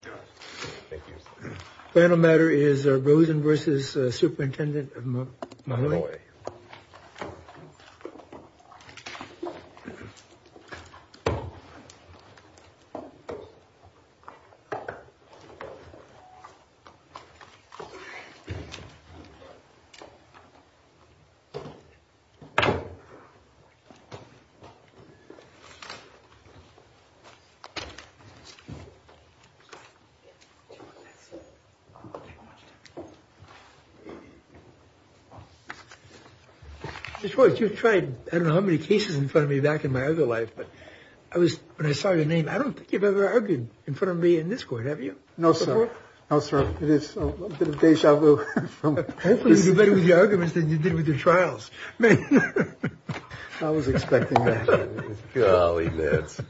Thank you. Final matter is Rosen versus Superintendent Mahanoy. I don't know how many cases in front of me back in my other life, but I was when I saw your name, I don't think you've ever argued in front of me in this court, have you? No, sir. No, sir. It is a little bit of deja vu. Hopefully you do better with your arguments than you did with your trials. I was expecting that. Golly, that's...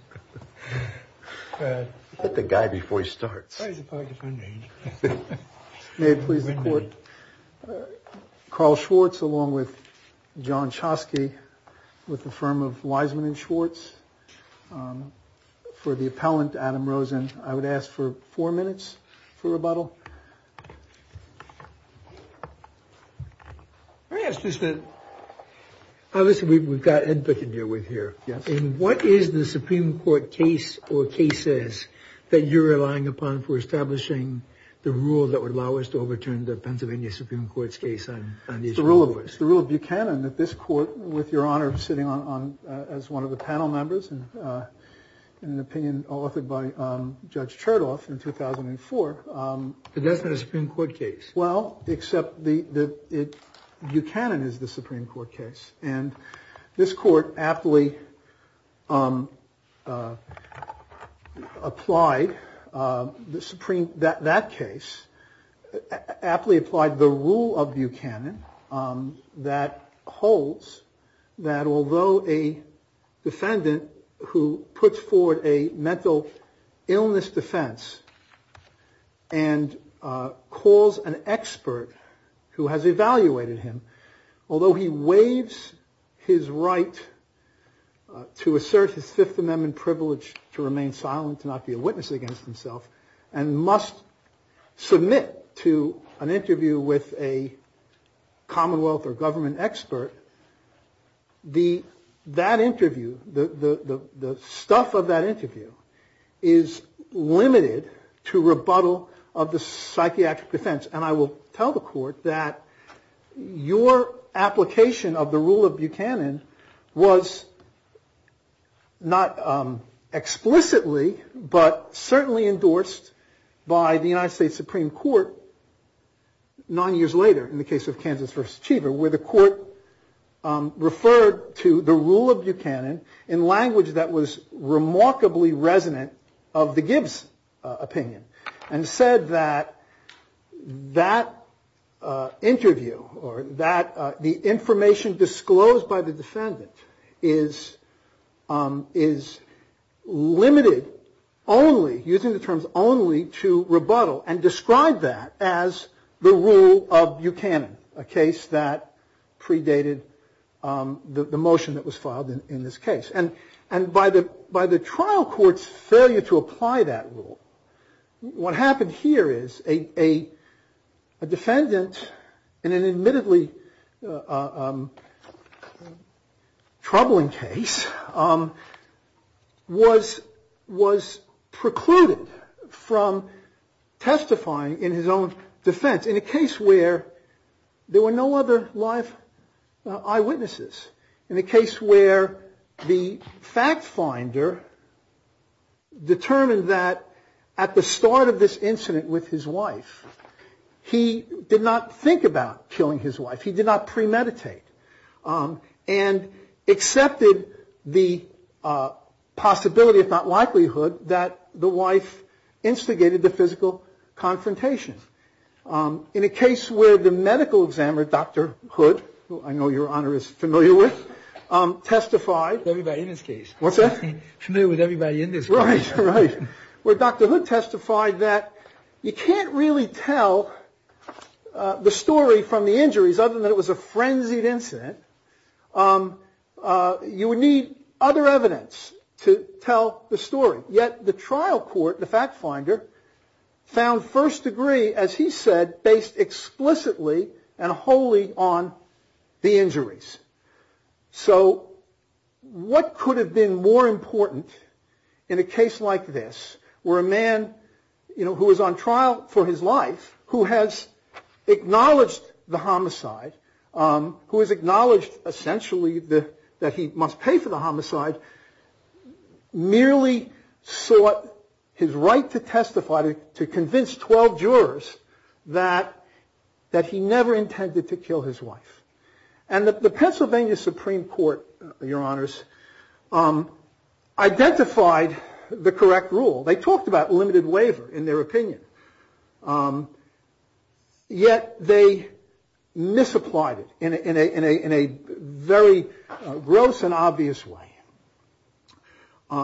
May it please the court. Carl Schwartz, along with John Chosky, with the firm of Wiseman and Schwartz. For the appellant, Adam Rosen, I would ask for four minutes for rebuttal. Yes, just that. Obviously, we've got input to deal with here. Yes. And what is the Supreme Court case or cases that you're relying upon for establishing the rule that would allow us to overturn the Pennsylvania Supreme Court's case on these? It's the rule of Buchanan that this court, with your honor sitting on as one of the panel members and an opinion authored by Judge Chertoff in 2004. But that's not a Supreme Court case. Well, except that Buchanan is the Supreme Court case. And this court aptly applied that case, aptly applied the rule of Buchanan that holds that although a defendant who puts forward a mental illness defense and calls an expert who has evaluated him, although he waives his right to assert his Fifth Amendment privilege to remain silent, to not be a witness against himself, and must submit to an interview with a commonwealth or government expert, that interview, the stuff of that interview is limited to rebuttal of the psychiatric defense. And I will tell the court that your application of the rule of Buchanan was not explicitly, but certainly endorsed by the United States Supreme Court nine years later in the case of Kansas v. Cheever where the court referred to the rule of Buchanan in language that was remarkably resonant of the Gibbs opinion and said that that interview or that the information disclosed by the defendant is limited only, using the terms only, to rebuttal and described that as the rule of Buchanan, a case that predated the motion that was filed in this case. And by the trial court's failure to apply that rule, what happened here is a defendant in an admittedly troubling case was precluded from testifying in his own defense in a case where there were no other live eyewitnesses. In a case where the fact finder determined that at the start of this incident with his wife, he did not think about killing his wife. He did not premeditate and accepted the possibility, if not likelihood, that the wife instigated the physical confrontation. In a case where the medical examiner, Dr. Hood, who I know your Honor is familiar with, testified... Everybody in this case. What's that? I'm familiar with everybody in this case. Right, right. Where Dr. Hood testified that you can't really tell the story from the injuries, other than it was a frenzied incident. You would need other evidence to tell the story, yet the trial court, the fact finder, found first degree, as he said, based explicitly and wholly on the injuries. So what could have been more important in a case like this, where a man who was on trial for his life, who has acknowledged the homicide, who has acknowledged essentially that he must pay for the homicide, merely sought his right to testify to convince 12 jurors that he never intended to kill his wife. And the Pennsylvania Supreme Court, your Honors, identified the correct rule. They talked about limited waiver, in their opinion, yet they misapplied it in a very gross and obvious way.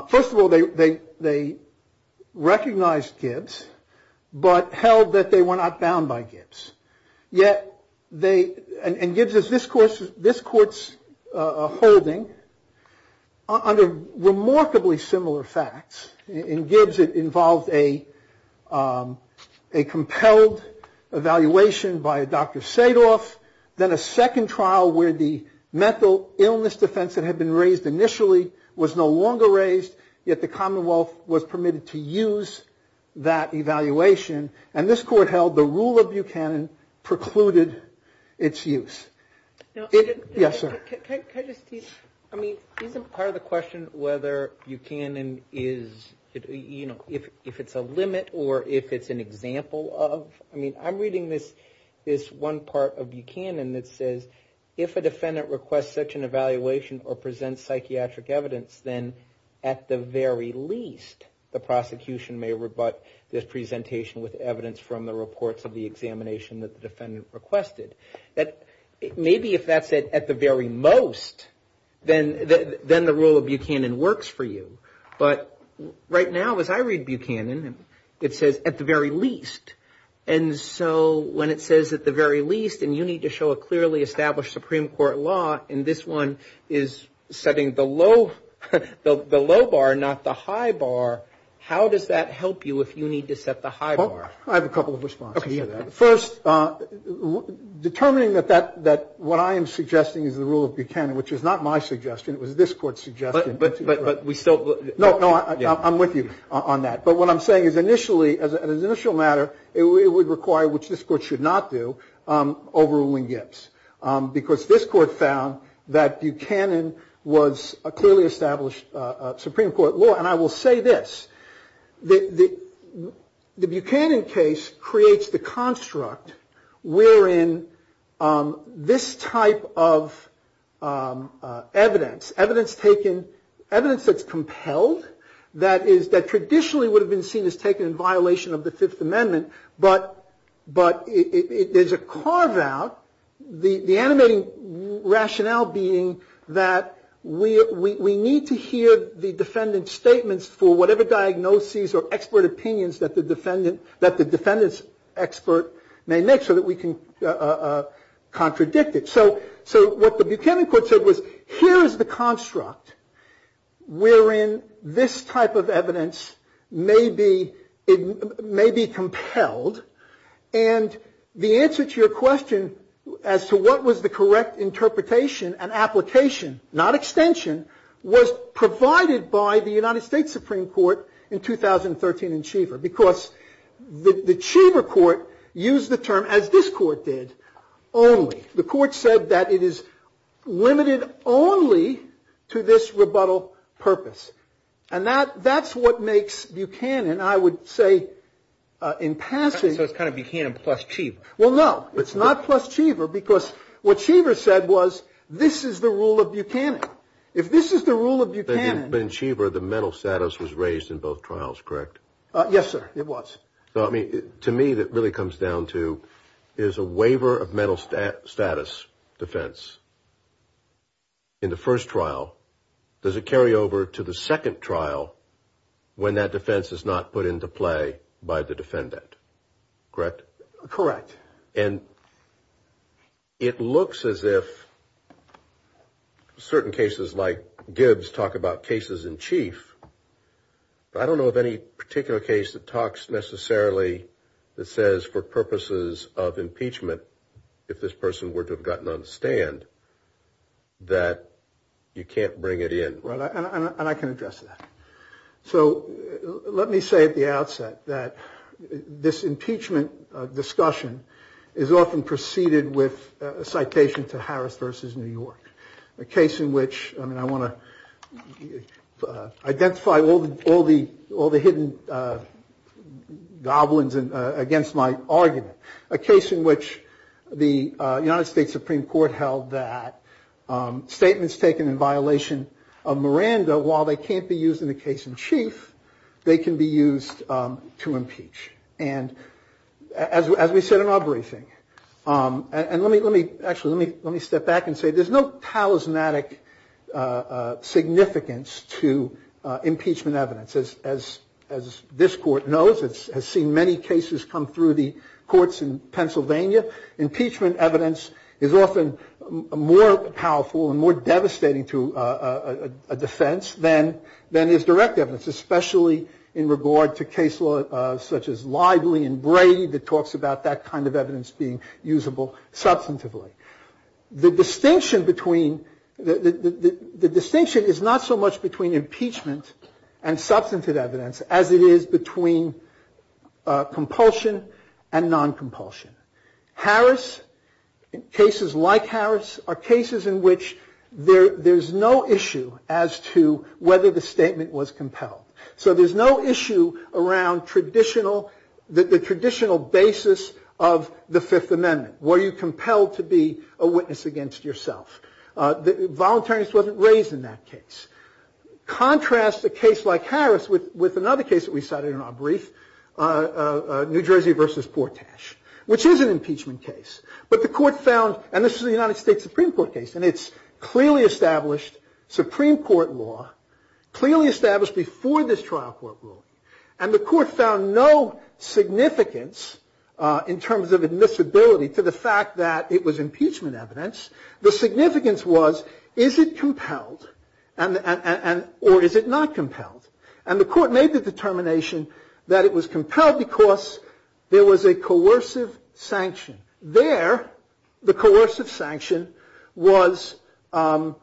First of all, they recognized Gibbs, but held that they were not bound by Gibbs. And Gibbs is this court's holding under remarkably similar facts. In Gibbs it involved a compelled evaluation by Dr. Sadoff, then a second trial where the mental illness defense that had been raised initially was no longer raised, yet the Commonwealth was permitted to use that evaluation. And this court held the rule of Buchanan precluded its use. Yes, sir. I mean, isn't part of the question whether Buchanan is, you know, if it's a limit or if it's an example of, I mean, I'm reading this one part of Buchanan that says, if a defendant requests such an evaluation or presents psychiatric evidence, then at the very least, the prosecution may rebut this presentation with evidence from the reports of the examination that the defendant requested. Maybe if that's at the very most, then the rule of Buchanan works for you. But right now as I read Buchanan, it says at the very least. And so when it says at the very least, and you need to show a clearly established Supreme Court law, and this one is setting the low bar, not the high bar, how does that help you if you need to set the high bar? I have a couple of responses to that. First, determining that what I am suggesting is the rule of Buchanan, which is not my suggestion, it was this court's suggestion. But we still. No, no, I'm with you on that. But what I'm saying is initially, as an initial matter, it would require, which this court should not do, overruling Gibbs. Because this court found that Buchanan was a clearly established Supreme Court law. And I will say this. The Buchanan case creates the construct wherein this type of evidence, evidence taken, evidence that's compelled, that traditionally would have been seen as taken in violation of the Fifth Amendment. But there's a carve-out, the animating rationale being that we need to hear the defendant's statements for whatever diagnoses or expert opinions that the defendant's expert may make so that we can contradict it. So what the Buchanan court said was here is the construct wherein this type of evidence may be compelled. And the answer to your question as to what was the correct interpretation and application, not extension, was provided by the United States Supreme Court in 2013 in Cheever. Because the Cheever court used the term, as this court did, only. The court said that it is limited only to this rebuttal purpose. And that's what makes Buchanan, I would say, in passing. So it's kind of Buchanan plus Cheever. Well, no. It's not plus Cheever because what Cheever said was this is the rule of Buchanan. If this is the rule of Buchanan. But in Cheever, the mental status was raised in both trials, correct? Yes, sir. It was. To me, that really comes down to is a waiver of mental status defense in the first trial. Does it carry over to the second trial when that defense is not put into play by the defendant, correct? Correct. And it looks as if certain cases like Gibbs talk about cases in chief. But I don't know of any particular case that talks necessarily that says for purposes of impeachment, if this person were to have gotten on the stand, that you can't bring it in. And I can address that. So let me say at the outset that this impeachment discussion is often preceded with a citation to Harris versus New York. A case in which, I mean, I want to identify all the hidden goblins against my argument. A case in which the United States Supreme Court held that statements taken in violation of Miranda, while they can't be used in a case in chief, they can be used to impeach. And as we said in our briefing, and let me step back and say there's no talismanic significance to impeachment evidence. As this court knows, it has seen many cases come through the courts in Pennsylvania. Impeachment evidence is often more powerful and more devastating to a defense than is direct evidence, especially in regard to case law such as Lively and Brady that talks about that kind of evidence being usable substantively. The distinction is not so much between impeachment and substantive evidence as it is between compulsion and non-compulsion. Harris, cases like Harris, are cases in which there's no issue as to whether the statement was compelled. So there's no issue around the traditional basis of the Fifth Amendment. Were you compelled to be a witness against yourself? Voluntariness wasn't raised in that case. Contrast a case like Harris with another case that we cited in our brief, New Jersey v. Portash, which is an impeachment case. But the court found, and this is a United States Supreme Court case, and it's clearly established Supreme Court law, clearly established before this trial court ruling. And the court found no significance in terms of admissibility to the fact that it was impeachment evidence. The significance was, is it compelled or is it not compelled? And the court made the determination that it was compelled because there was a coercive sanction. There, the coercive sanction was a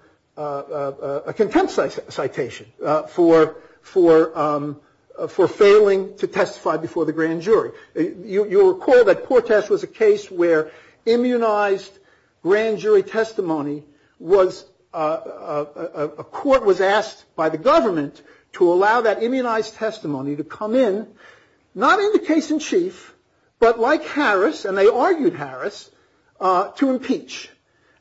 contempt citation for failing to testify before the grand jury. You'll recall that Portash was a case where immunized grand jury testimony was, a court was asked by the government to allow that immunized testimony to come in, not in the case in chief, but like Harris, and they argued Harris, to impeach.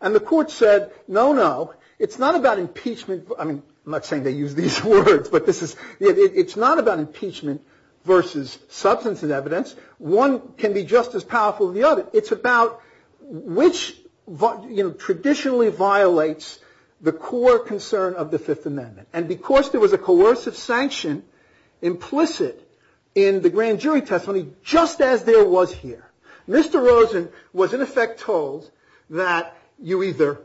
And the court said, no, no, it's not about impeachment. I mean, I'm not saying they use these words, but this is, it's not about impeachment versus substance and evidence. One can be just as powerful as the other. It's about which, you know, traditionally violates the core concern of the Fifth Amendment. And because there was a coercive sanction implicit in the grand jury testimony, just as there was here. Mr. Rosen was in effect told that you either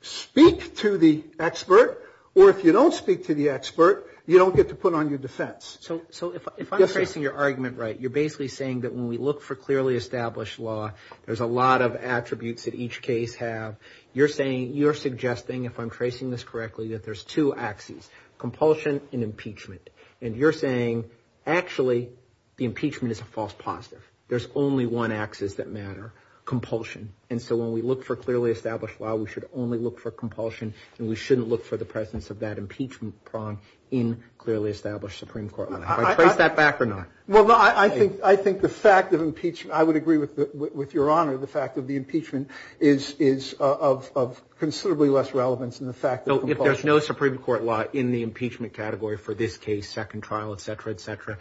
speak to the expert or if you don't speak to the expert, you don't get to put on your defense. So if I'm tracing your argument right, you're basically saying that when we look for clearly established law, there's a lot of attributes that each case have. You're saying, you're suggesting, if I'm tracing this correctly, that there's two axes, compulsion and impeachment. And you're saying, actually, the impeachment is a false positive. There's only one axis that matter, compulsion. And so when we look for clearly established law, we should only look for compulsion, and we shouldn't look for the presence of that impeachment prong in clearly established Supreme Court law. Do I trace that back or not? Well, I think the fact of impeachment, I would agree with your honor, the fact of the impeachment is of considerably less relevance than the fact of compulsion. If there's no Supreme Court law in the impeachment category for this case, second trial, et cetera, et cetera,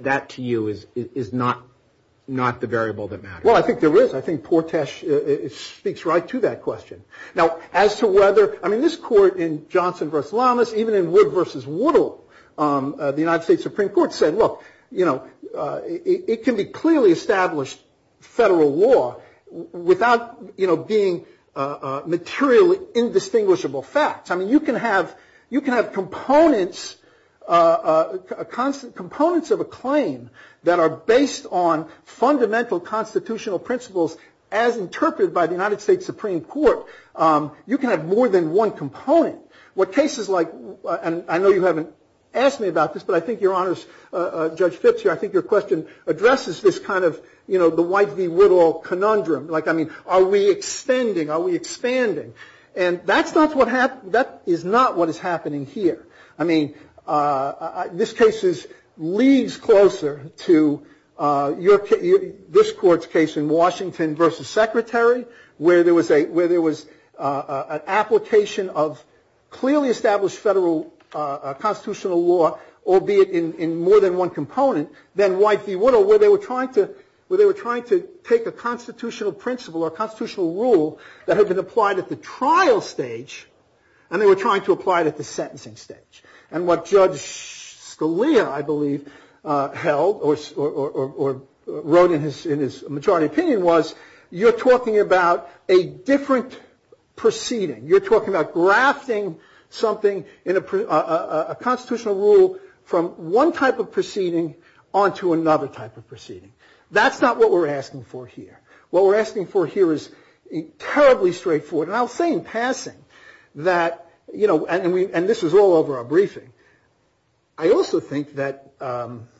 that to you is not the variable that matters. Well, I think there is. I think Portesh speaks right to that question. Now, as to whether, I mean, this court in Johnson v. Lamas, even in Wood v. Woodall, the United States Supreme Court said, look, it can be clearly established federal law without being materially indistinguishable facts. I mean, you can have components of a claim that are based on fundamental constitutional principles, as interpreted by the United States Supreme Court. What cases like, and I know you haven't asked me about this, but I think your honors, Judge Fitzgerald, I think your question addresses this kind of, you know, the White v. Woodall conundrum. Like, I mean, are we extending? Are we expanding? And that's not what happened. That is not what is happening here. I mean, this case leads closer to this court's case in Washington v. Secretary, where there was an application of clearly established federal constitutional law, albeit in more than one component, than White v. Woodall, where they were trying to take a constitutional principle or a constitutional rule that had been applied at the trial stage, and they were trying to apply it at the sentencing stage. And what Judge Scalia, I believe, held or wrote in his majority opinion was, you're talking about a different proceeding. You're talking about grafting something, a constitutional rule, from one type of proceeding on to another type of proceeding. That's not what we're asking for here. What we're asking for here is terribly straightforward and I'll say in passing that, you know, and this is all over our briefing, I also think that the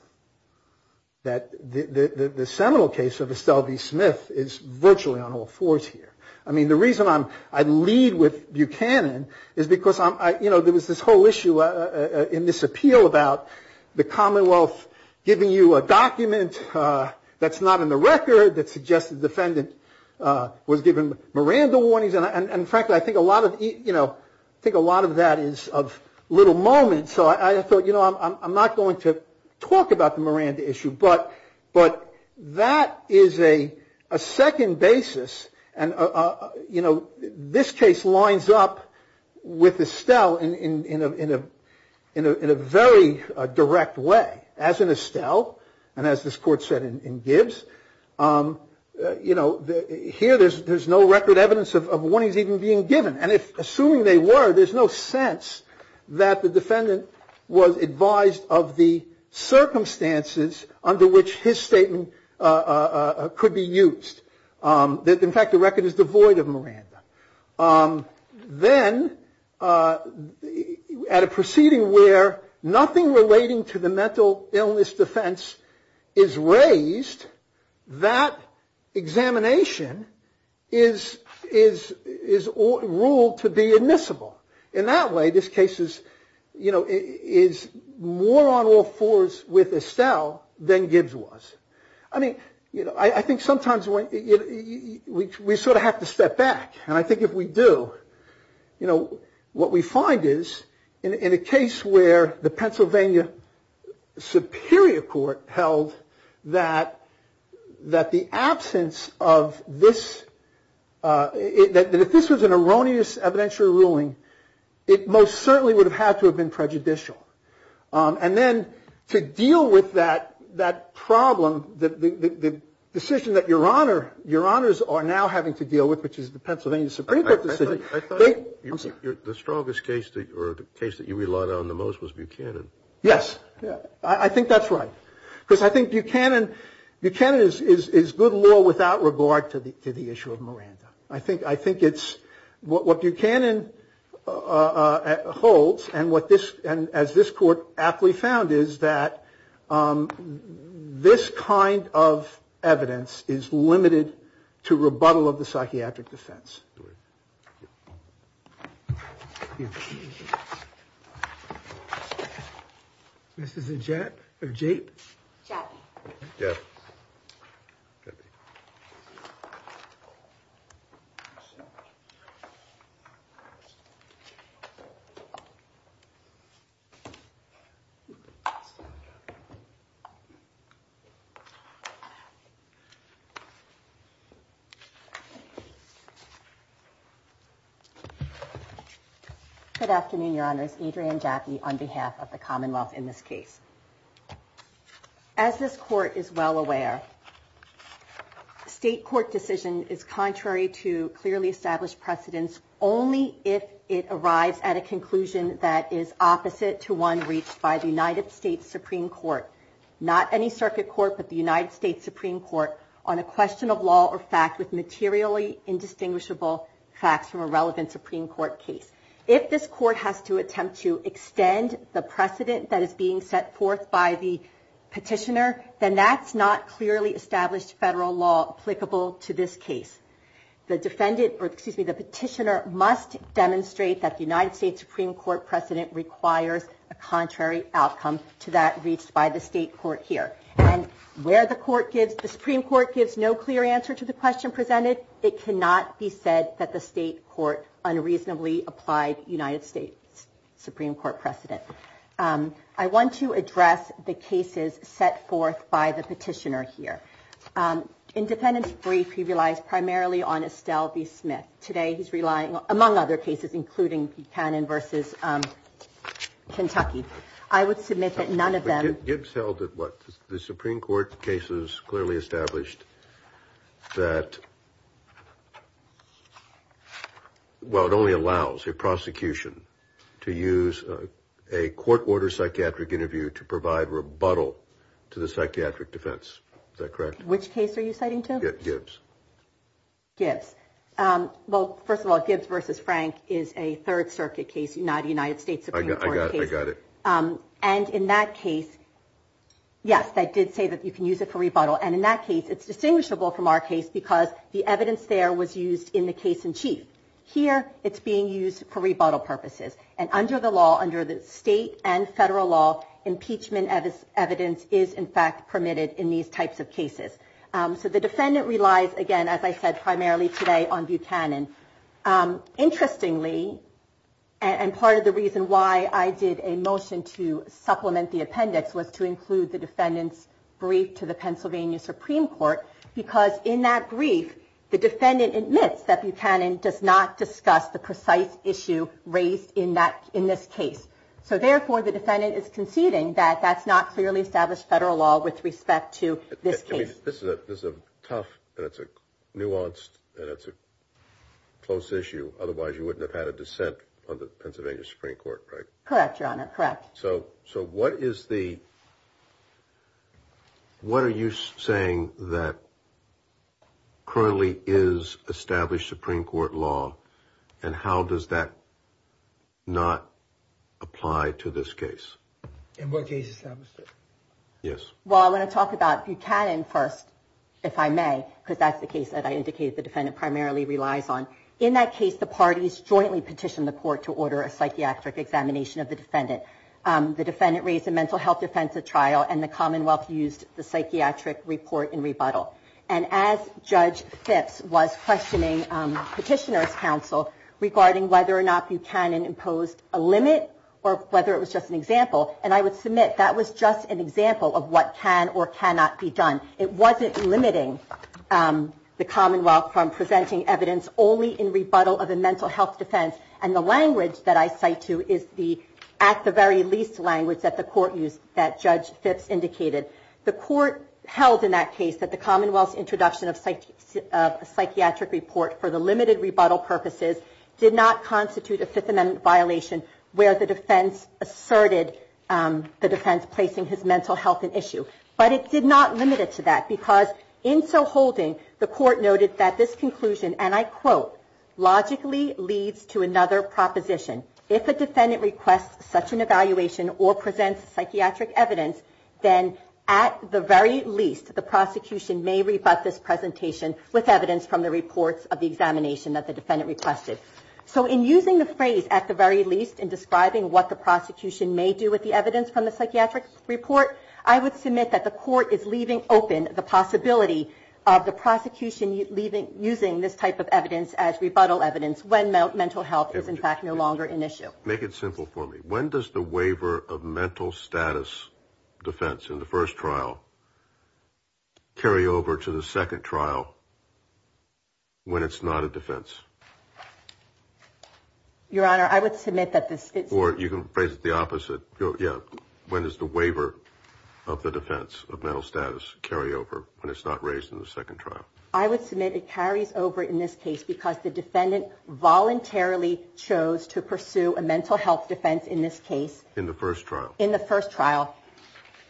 seminal case of Estelle v. Smith is virtually on all fours here. I mean, the reason I lead with Buchanan is because, you know, there was this whole issue in this appeal about the Commonwealth giving you a document that's not in the record that suggested the defendant was given Miranda warnings. And frankly, I think a lot of, you know, I think a lot of that is of little moment. So I thought, you know, I'm not going to talk about the Miranda issue. But that is a second basis and, you know, this case lines up with Estelle in a very direct way, as in Estelle, you know, here there's no record evidence of warnings even being given. And assuming they were, there's no sense that the defendant was advised of the circumstances under which his statement could be used. In fact, the record is devoid of Miranda. Then at a proceeding where nothing relating to the mental illness defense is raised, that examination is ruled to be admissible. In that way, this case is, you know, is more on all fours with Estelle than Gibbs was. I mean, you know, I think sometimes we sort of have to step back. And I think if we do, you know, what we find is in a case where the Pennsylvania Superior Court held that the absence of this, that if this was an erroneous evidentiary ruling, it most certainly would have had to have been prejudicial. And then to deal with that problem, the decision that your honors are now having to deal with, which is the Pennsylvania Supreme Court decision. I thought the strongest case or the case that you relied on the most was Buchanan. Yes, I think that's right. Because I think Buchanan is good law without regard to the issue of Miranda. I think it's what Buchanan holds and what this, as this court aptly found, is that this kind of evidence is limited to rebuttal of the psychiatric defense. Yes. This is a jet of Jake. Yes. Could be. Good afternoon, your honors. Adrian Jackie, on behalf of the Commonwealth in this case. As this court is well aware, state court decision is contrary to clearly established precedents. Only if it arrives at a conclusion that is opposite to one reached by the United States Supreme Court, not any circuit court, but the United States Supreme Court on a question of law or fact with materially indistinguishable facts from a relevant Supreme Court case. If this court has to attempt to extend the precedent that is being set forth by the petitioner, then that's not clearly established federal law applicable to this case. The defendant or excuse me, the petitioner must demonstrate that the United States Supreme Court precedent requires a contrary outcome to that reached by the state court here. And where the court gives the Supreme Court gives no clear answer to the question presented. It cannot be said that the state court unreasonably applied United States Supreme Court precedent. I want to address the cases set forth by the petitioner here. Independence brief. He relies primarily on Estelle B. Smith today. He's relying, among other cases, including Buchanan versus Kentucky. I would submit that none of them. Gibbs held it. What? The Supreme Court cases clearly established that. Well, it only allows a prosecution to use a court order psychiatric interview to provide rebuttal to the psychiatric defense. Is that correct? Which case are you citing to Gibbs? Yes. Well, first of all, Gibbs versus Frank is a Third Circuit case, not a United States Supreme Court. I got it. And in that case, yes, they did say that you can use it for rebuttal. And in that case, it's distinguishable from our case because the evidence there was used in the case in chief here. It's being used for rebuttal purposes. And under the law, under the state and federal law, impeachment as evidence is, in fact, permitted in these types of cases. So the defendant relies, again, as I said, primarily today on Buchanan. Interestingly, and part of the reason why I did a motion to supplement the appendix was to include the defendant's brief to the Pennsylvania Supreme Court, because in that brief, the defendant admits that Buchanan does not discuss the precise issue raised in this case. So, therefore, the defendant is conceding that that's not clearly established federal law with respect to this case. This is a tough and it's a nuanced and it's a close issue. Otherwise, you wouldn't have had a dissent on the Pennsylvania Supreme Court. Right. Correct. Correct. So. So what is the. What are you saying that. Currently is established Supreme Court law and how does that. Not apply to this case. In what case established. Yes. Well, I want to talk about Buchanan first, if I may, because that's the case that I indicated the defendant primarily relies on. In that case, the parties jointly petitioned the court to order a psychiatric examination of the defendant. The defendant raised a mental health defense, a trial, and the Commonwealth used the psychiatric report and rebuttal. And as Judge Fitz was questioning petitioner's counsel regarding whether or not Buchanan imposed a limit or whether it was just an example. And I would submit that was just an example of what can or cannot be done. It wasn't limiting the Commonwealth from presenting evidence only in rebuttal of a mental health defense. And the language that I cite, too, is the at the very least language that the court used that Judge Fitz indicated. The court held in that case that the Commonwealth's introduction of a psychiatric report for the limited rebuttal purposes did not constitute a Fifth Amendment violation. Where the defense asserted the defense placing his mental health and issue. But it did not limit it to that because in so holding the court noted that this conclusion, and I quote, logically leads to another proposition. If a defendant requests such an evaluation or presents psychiatric evidence, then at the very least, the prosecution may rebut this presentation with evidence from the reports of the examination that the defendant requested. So in using the phrase at the very least in describing what the prosecution may do with the evidence from the psychiatric report, I would submit that the court is leaving open the possibility of the prosecution using this type of evidence as rebuttal evidence when mental health is in fact no longer an issue. Make it simple for me. When does the waiver of mental status defense in the first trial carry over to the second trial? When it's not a defense. Your Honor, I would submit that this or you can phrase it the opposite. Yeah. When is the waiver of the defense of mental status carry over when it's not raised in the second trial? I would submit it carries over in this case because the defendant voluntarily chose to pursue a mental health defense in this case in the first trial in the first trial.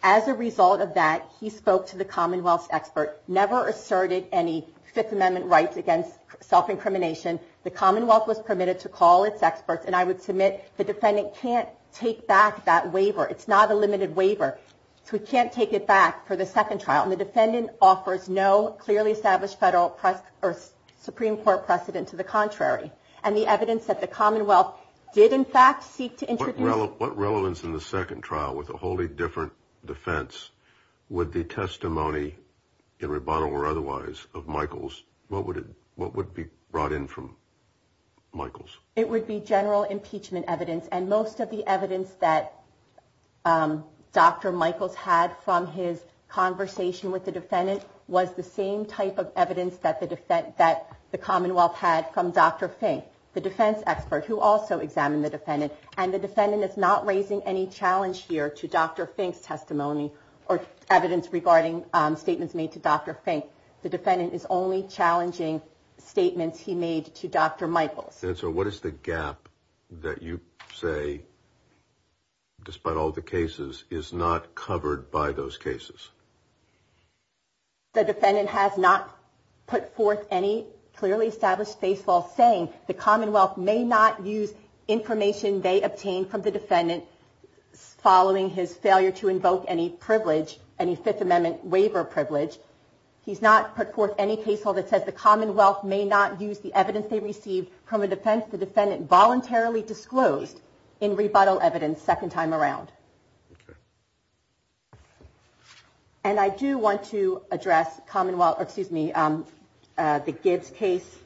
As a result of that, he spoke to the Commonwealth expert, never asserted any Fifth Amendment rights against self-incrimination. The Commonwealth was permitted to call its experts. And I would submit the defendant can't take back that waiver. It's not a limited waiver. So we can't take it back for the second trial. And the defendant offers no clearly established federal press or Supreme Court precedent to the contrary. And the evidence that the Commonwealth did, in fact, seek to introduce what relevance in the second trial with a wholly different defense. Would the testimony in rebuttal or otherwise of Michael's? What would it what would be brought in from Michael's? It would be general impeachment evidence and most of the evidence that Dr. Michaels had from his conversation with the defendant was the same type of evidence that the defense that the Commonwealth had from Dr. Fink, the defense expert who also examined the defendant. And the defendant is not raising any challenge here to Dr. Fink's testimony or evidence regarding statements made to Dr. Fink. The defendant is only challenging statements he made to Dr. Michaels. So what is the gap that you say? Despite all the cases is not covered by those cases. The defendant has not put forth any clearly established baseball saying the Commonwealth may not use information they obtained from the defendant following his failure to invoke any privilege, any Fifth Amendment waiver privilege. He's not put forth any case that says the Commonwealth may not use the evidence they received from a defense. The defendant voluntarily disclosed in rebuttal evidence second time around. And I do want to address Commonwealth excuse me, the Gibbs case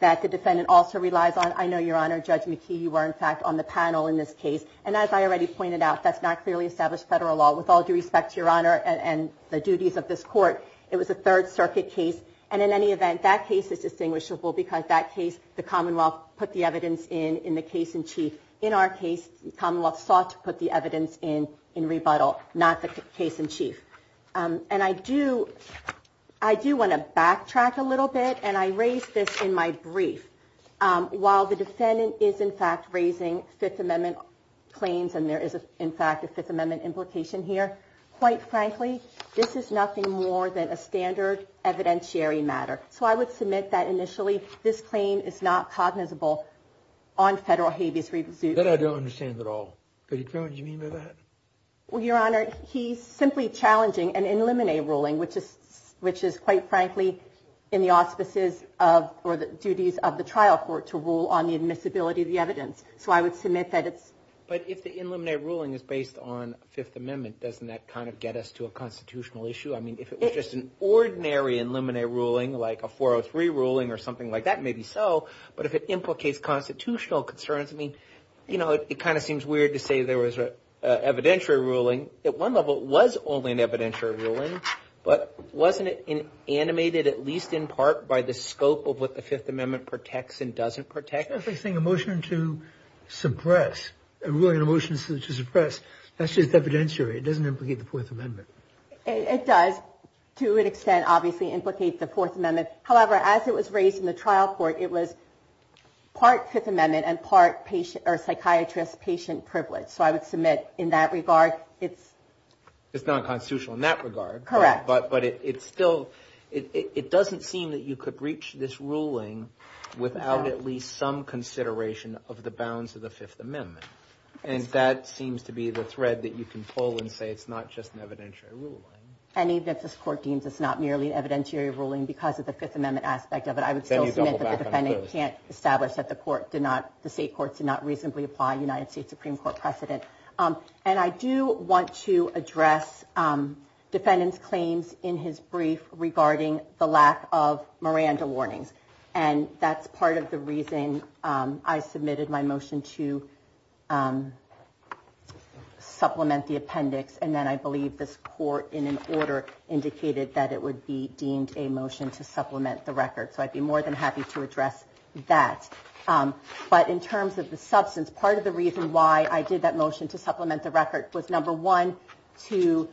that the defendant also relies on. I know, Your Honor, Judge McKee, you were in fact on the panel in this case. And as I already pointed out, that's not clearly established federal law with all due respect to Your Honor and the duties of this court. It was a Third Circuit case. And in any event, that case is distinguishable because that case, the Commonwealth put the evidence in in the case in chief. In our case, the Commonwealth sought to put the evidence in in rebuttal, not the case in chief. And I do I do want to backtrack a little bit. And I raised this in my brief. While the defendant is, in fact, raising Fifth Amendment claims and there is, in fact, a Fifth Amendment implication here. Quite frankly, this is nothing more than a standard evidentiary matter. So I would submit that initially this claim is not cognizable on federal habeas suit. That I don't understand at all. What do you mean by that? Well, Your Honor, he's simply challenging an in limine ruling, which is which is quite frankly in the auspices of or the duties of the trial court to rule on the admissibility of the evidence. So I would submit that it's. But if the in limine ruling is based on Fifth Amendment, doesn't that kind of get us to a constitutional issue? I mean, if it was just an ordinary in limine ruling like a 403 ruling or something like that, maybe so. But if it implicates constitutional concerns, I mean, you know, it kind of seems weird to say there was an evidentiary ruling. At one level, it was only an evidentiary ruling, but wasn't it animated at least in part by the scope of what the Fifth Amendment protects and doesn't protect? I think a motion to suppress a ruling, a motion to suppress, that's just evidentiary. It doesn't implicate the Fourth Amendment. It does, to an extent, obviously implicate the Fourth Amendment. However, as it was raised in the trial court, it was part Fifth Amendment and part patient or psychiatrist patient privilege. So I would submit in that regard, it's it's not constitutional in that regard. Correct. But but it's still it doesn't seem that you could reach this ruling without at least some consideration of the bounds of the Fifth Amendment. And that seems to be the thread that you can pull and say it's not just an evidentiary ruling. And even if this court deems it's not merely evidentiary ruling because of the Fifth Amendment aspect of it, I would say you can't establish that the court did not. The state courts did not reasonably apply United States Supreme Court precedent. And I do want to address defendants claims in his brief regarding the lack of Miranda warnings. And that's part of the reason I submitted my motion to supplement the appendix. And then I believe this court in an order indicated that it would be deemed a motion to supplement the record. So I'd be more than happy to address that. But in terms of the substance, part of the reason why I did that motion to supplement the record was, number one, to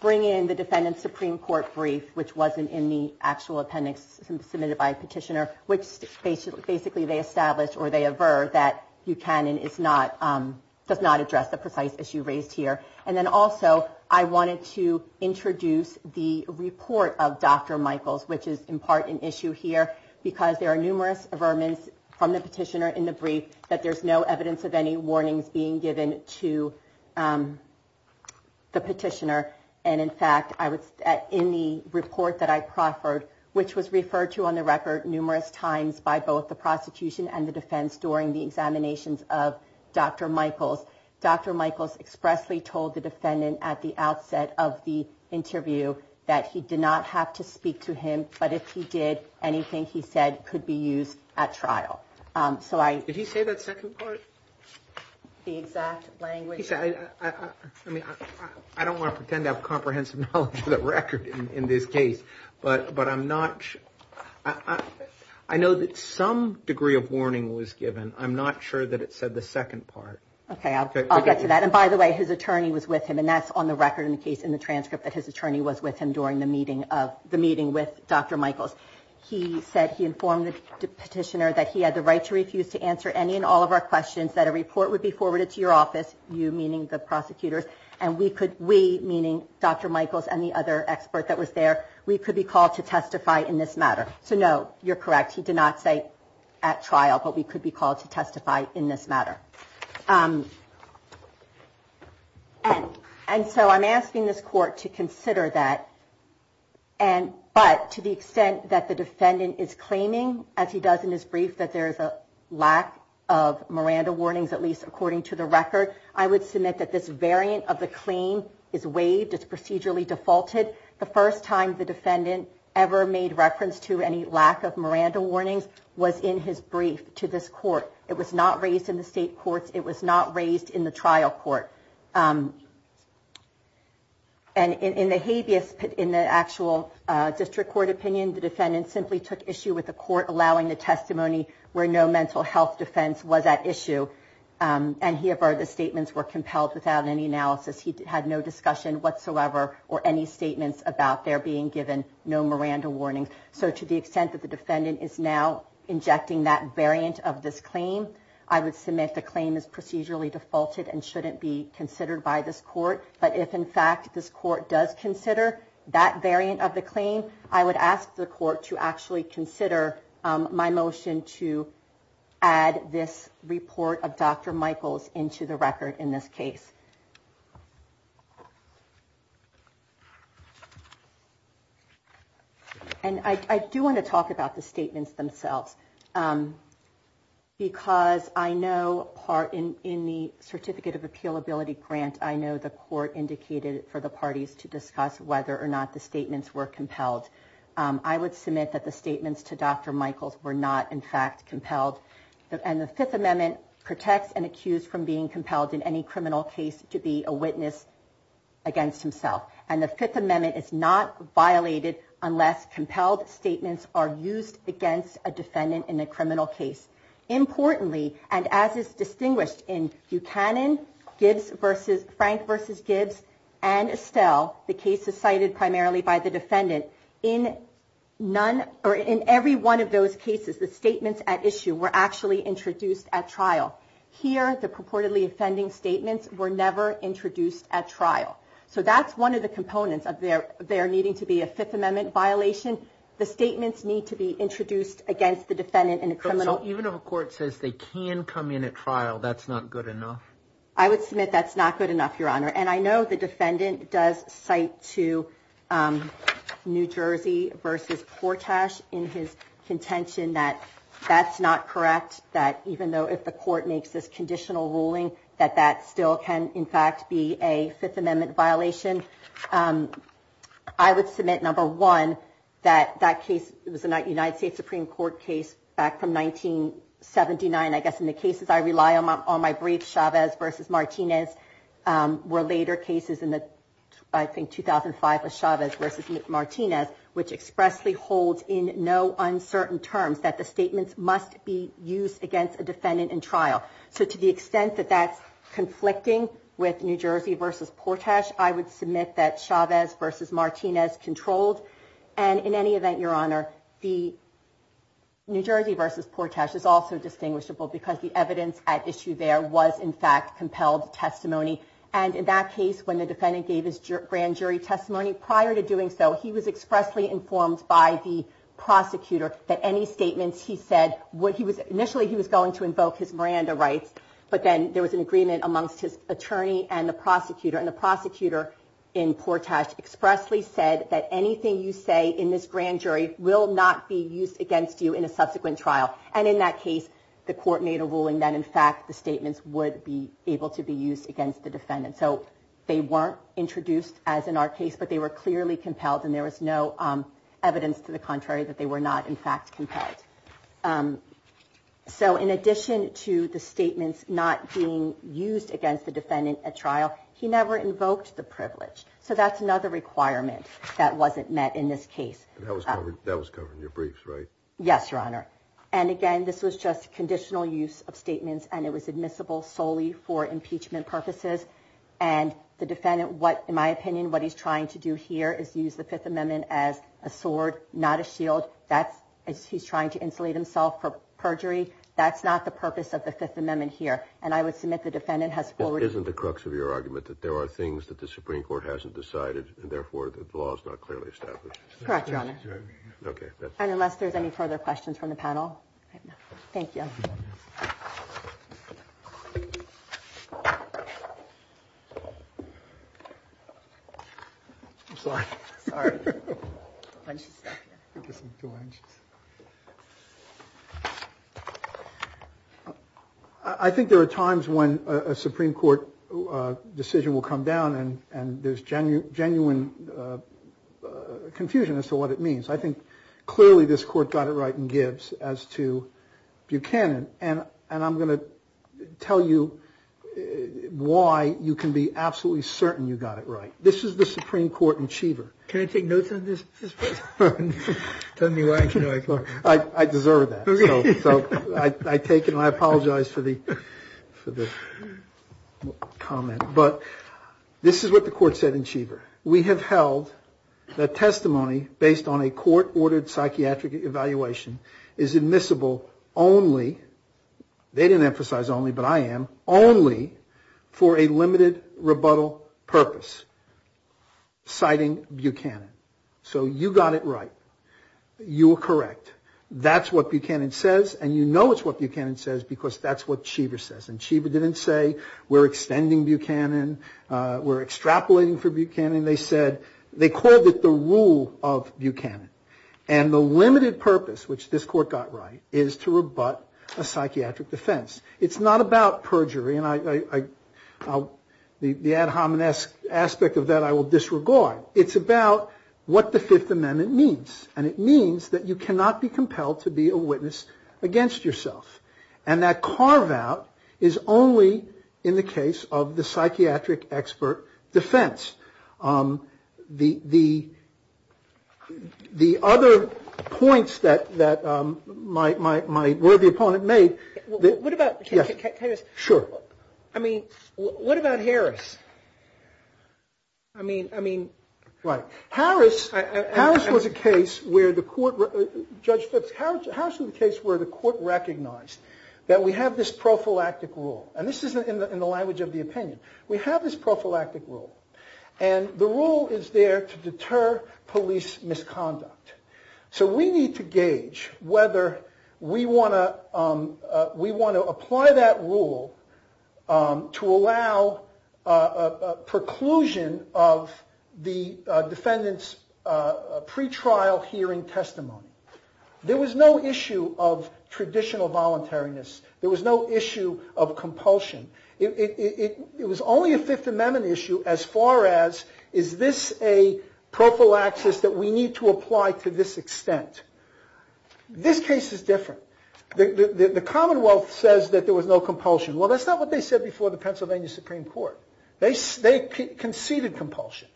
bring in the defendant's Supreme Court brief, which wasn't in the actual appendix submitted by a petitioner, which basically they established or they avert that you can. And it's not does not address the precise issue raised here. And then also I wanted to introduce the report of Dr. Michaels, which is in part an issue here because there are numerous vermin from the petitioner in the brief that there's no evidence of any warnings being given to the petitioner. And in fact, I was in the report that I proffered, which was referred to on the record numerous times by both the prosecution and the defense during the examinations of Dr. Michaels. Dr. Michaels expressly told the defendant at the outset of the interview that he did not have to speak to him. But if he did, anything he said could be used at trial. So I did he say that second part? The exact language I mean, I don't want to pretend to have comprehensive knowledge of the record in this case, but but I'm not. I know that some degree of warning was given. I'm not sure that it said the second part. OK, I'll get to that. And by the way, his attorney was with him, and that's on the record in the case in the transcript that his attorney was with him during the meeting of the meeting with Dr. Michaels. He said he informed the petitioner that he had the right to refuse to answer any and all of our questions, that a report would be forwarded to your office. You meaning the prosecutors and we could we meaning Dr. Michaels and the other expert that was there. We could be called to testify in this matter. So, no, you're correct. He did not say at trial, but we could be called to testify in this matter. And and so I'm asking this court to consider that. And but to the extent that the defendant is claiming, as he does in his brief, that there is a lack of Miranda warnings, at least according to the record. I would submit that this variant of the claim is waived as procedurally defaulted. The first time the defendant ever made reference to any lack of Miranda warnings was in his brief to this court. It was not raised in the state courts. It was not raised in the trial court. And in the habeas in the actual district court opinion, the defendant simply took issue with the court, allowing the testimony where no mental health defense was at issue. And here are the statements were compelled without any analysis. He had no discussion whatsoever or any statements about there being given no Miranda warnings. So to the extent that the defendant is now injecting that variant of this claim, I would submit the claim is procedurally defaulted and shouldn't be considered by this court. But if, in fact, this court does consider that variant of the claim, I would ask the court to actually consider my motion to add this report of Dr. Michaels into the record in this case. I do want to talk about the statements themselves, because I know part in the certificate of appeal ability grant. I know the court indicated for the parties to discuss whether or not the statements were compelled. I would submit that the statements to Dr. Michaels were not, in fact, compelled. And the Fifth Amendment protects and accused from being compelled in any criminal case to be a witness against himself. And the Fifth Amendment is not violated unless compelled statements are used against a defendant in a criminal case. Importantly, and as is distinguished in Buchanan, Frank v. Gibbs and Estelle, the cases cited primarily by the defendant, in every one of those cases, the statements at issue were actually introduced at trial. Here, the purportedly offending statements were never introduced at trial. And that's one of the components of there needing to be a Fifth Amendment violation. The statements need to be introduced against the defendant in a criminal case. So even if a court says they can come in at trial, that's not good enough? I would submit that's not good enough, Your Honor. And I know the defendant does cite to New Jersey v. Portash in his contention that that's not correct, that even though if the court makes this conditional ruling, that that still can, in fact, be a Fifth Amendment violation. I would submit, number one, that that case was a United States Supreme Court case back from 1979. I guess in the cases I rely on, on my brief, Chavez v. Martinez, were later cases in the, I think, 2005 with Chavez v. Martinez, which expressly holds in no uncertain terms that the statements must be used against a defendant in trial. So to the extent that that's conflicting with New Jersey v. Portash, I would submit that Chavez v. Martinez is not correct. Chavez v. Martinez controlled, and in any event, Your Honor, the New Jersey v. Portash is also distinguishable, because the evidence at issue there was, in fact, compelled testimony. And in that case, when the defendant gave his grand jury testimony, prior to doing so, he was expressly informed by the prosecutor that any statements he said, what he was, initially he was going to invoke his Miranda rights, but then there was an agreement amongst his attorney and the prosecutor. And the prosecutor in Portash expressly said that anything you say in this grand jury will not be used against you in a subsequent trial. And in that case, the court made a ruling that, in fact, the statements would be able to be used against the defendant. So they weren't introduced as in our case, but they were clearly compelled, and there was no evidence to the contrary that they were not, in fact, compelled. So in addition to the statements not being used against the defendant at trial, he never used those statements. He never invoked the privilege. So that's another requirement that wasn't met in this case. That was covered in your briefs, right? Yes, Your Honor. And again, this was just conditional use of statements, and it was admissible solely for impeachment purposes. And the defendant, what, in my opinion, what he's trying to do here is use the Fifth Amendment as a sword, not a shield. That's, he's trying to insulate himself for perjury. That's not the purpose of the Fifth Amendment here. And I would submit the defendant has forwarded... Isn't the crux of your argument that there are things that the Supreme Court hasn't decided, and therefore the law is not clearly established? Correct, Your Honor. I'm sorry. I think there are times when a Supreme Court decision will come down, and there's genuine confusion as to what it means. I think clearly this Court got it right in Gibbs as to Buchanan. And I'm going to tell you why you can be absolutely certain you got it right. This is the Supreme Court achiever. Can I take notes on this? Tell me why. I deserve that, so I take it, and I apologize for the comment. But this is what the Court said in Cheever. We have held that testimony based on a court-ordered psychiatric evaluation is admissible only, they didn't emphasize only, but I am, only for a limited rebuttal purpose, citing Buchanan. So you got it right, you were correct, that's what Buchanan says, and you know it's what Buchanan says because that's what Cheever says. And Cheever didn't say, we're extending Buchanan, we're extrapolating for Buchanan. They said, they called it the rule of Buchanan. And the limited purpose, which this Court got right, is to rebut a psychiatric defense. It's not about perjury, and the ad hominesque aspect of that I will disregard. It's about what the Fifth Amendment means, and it means that you cannot be compelled to be a witness against yourself. And that carve-out is only in the case of the psychiatric expert defense. The other points that my worthy opponent made... What about Harris? Right, Harris was a case where the Court recognized that we have this prophylactic rule, and this is in the language of the opinion. We have this prophylactic rule, and the rule is there to deter police misconduct. So we need to gauge whether we want to apply that rule to allow a preclusion of the use of psychotic drugs. This is the defendant's pretrial hearing testimony. There was no issue of traditional voluntariness. There was no issue of compulsion. It was only a Fifth Amendment issue as far as, is this a prophylaxis that we need to apply to this extent? This case is different. The Commonwealth says that there was no compulsion. Well, that's not what they said before the Pennsylvania Supreme Court. They conceded compulsion.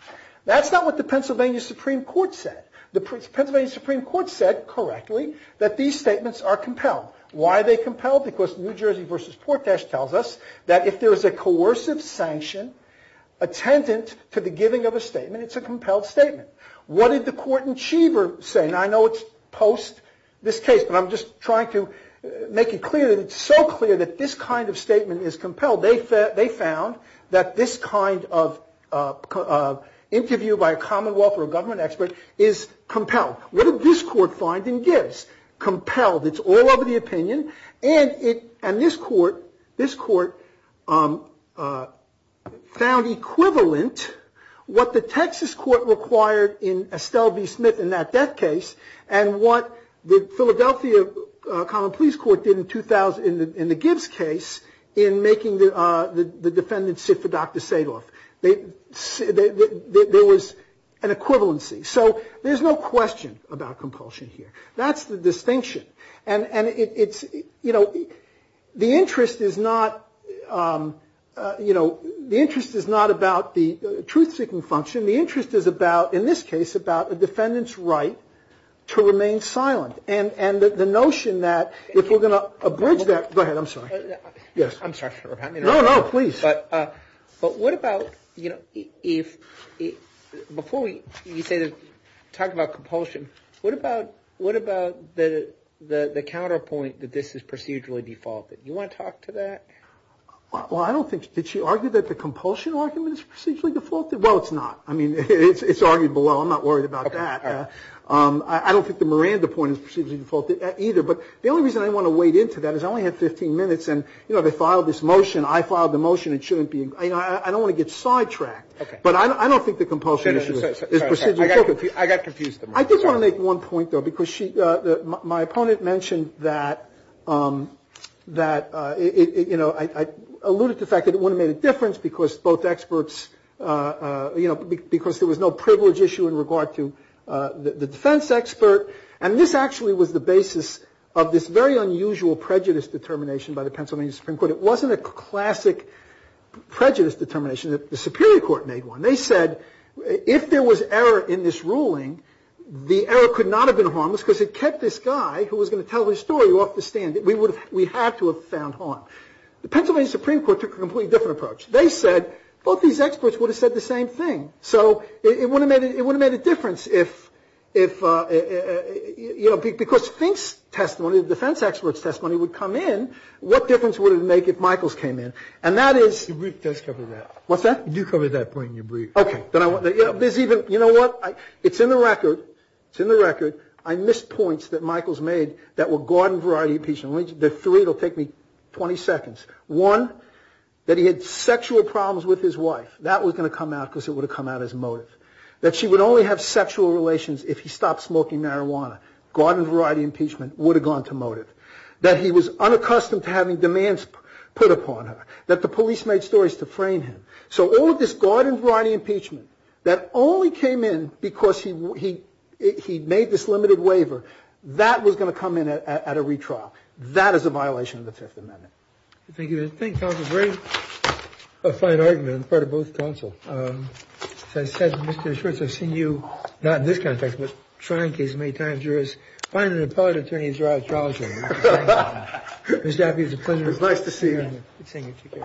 That's not what the Pennsylvania Supreme Court said. The Pennsylvania Supreme Court said correctly that these statements are compelled. Why are they compelled? Because New Jersey v. Portash tells us that if there is a coercive sanction attendant to the giving of a statement, it's a compelled statement. What did the court in Cheever say? And I know it's post this case, but I'm just trying to make it clear that it's so clear that this kind of statement is compelled. They found that this kind of interview by a Commonwealth or a government expert is compelled. What did this court find in Gibbs? Compelled. It's all over the opinion, and this court found equivalent what the Texas court required in Estelle v. Smith in that death case, and what the Philadelphia common police court did in the Gibbs case in making the defendant sit for Dr. Sadoff. There was an equivalency, so there's no question about compulsion here. That's the distinction, and it's, you know, the interest is not, you know, the interest is not about the truth-seeking function. The interest is about, in this case, about a defendant's right to remain silent, and the notion that if we're going to abridge that, go ahead, I'm sorry. I'm sorry for repounding. But what about, you know, before you talk about compulsion, what about the counterpoint that this is procedurally defaulted? You want to talk to that? Well, I don't think, did she argue that the compulsion argument is procedurally defaulted? Well, it's not. I mean, it's argued below, I'm not worried about that. I don't think the Miranda point is procedurally defaulted either, but the only reason I didn't want to wade into that is I only had 15 minutes, and, you know, they filed this motion. You know, because there was no privilege issue in regard to the defense expert, and this actually was the basis of this very unusual prejudice determination by the Pennsylvania Supreme Court. It wasn't a classic prejudice determination, the Superior Court made one. They said if there was error in this ruling, the error could not have been harmless because it kept this guy who was going to tell his story off the stand. We had to have found harm. The Pennsylvania Supreme Court took a completely different approach. They said both these experts would have said the same thing, so it wouldn't have made a difference if, you know, because Fink's testimony, the defense expert's testimony would come in, what difference would it make if Michaels came in? And that is... Do cover that point in your brief. You know what, it's in the record, I missed points that Michaels made that were garden variety impeachment. The three, it will take me 20 seconds. One, that he had sexual problems with his wife, that was going to come out because it would have come out as motive. That she would only have sexual relations if he stopped smoking marijuana. Garden variety impeachment would have gone to motive. That he was unaccustomed to having demands put upon her, that the police made stories to frame him. So all of this garden variety impeachment that only came in because he made this limited waiver, that was going to come in at a retrial. That is a violation of the Fifth Amendment. Thank you, counsel, very fine argument on the part of both counsel. As I said, Mr. Schwartz, I've seen you, not in this context, but trying cases many times, you're as fine an appellate attorney as you are a trial attorney. It's nice to see you.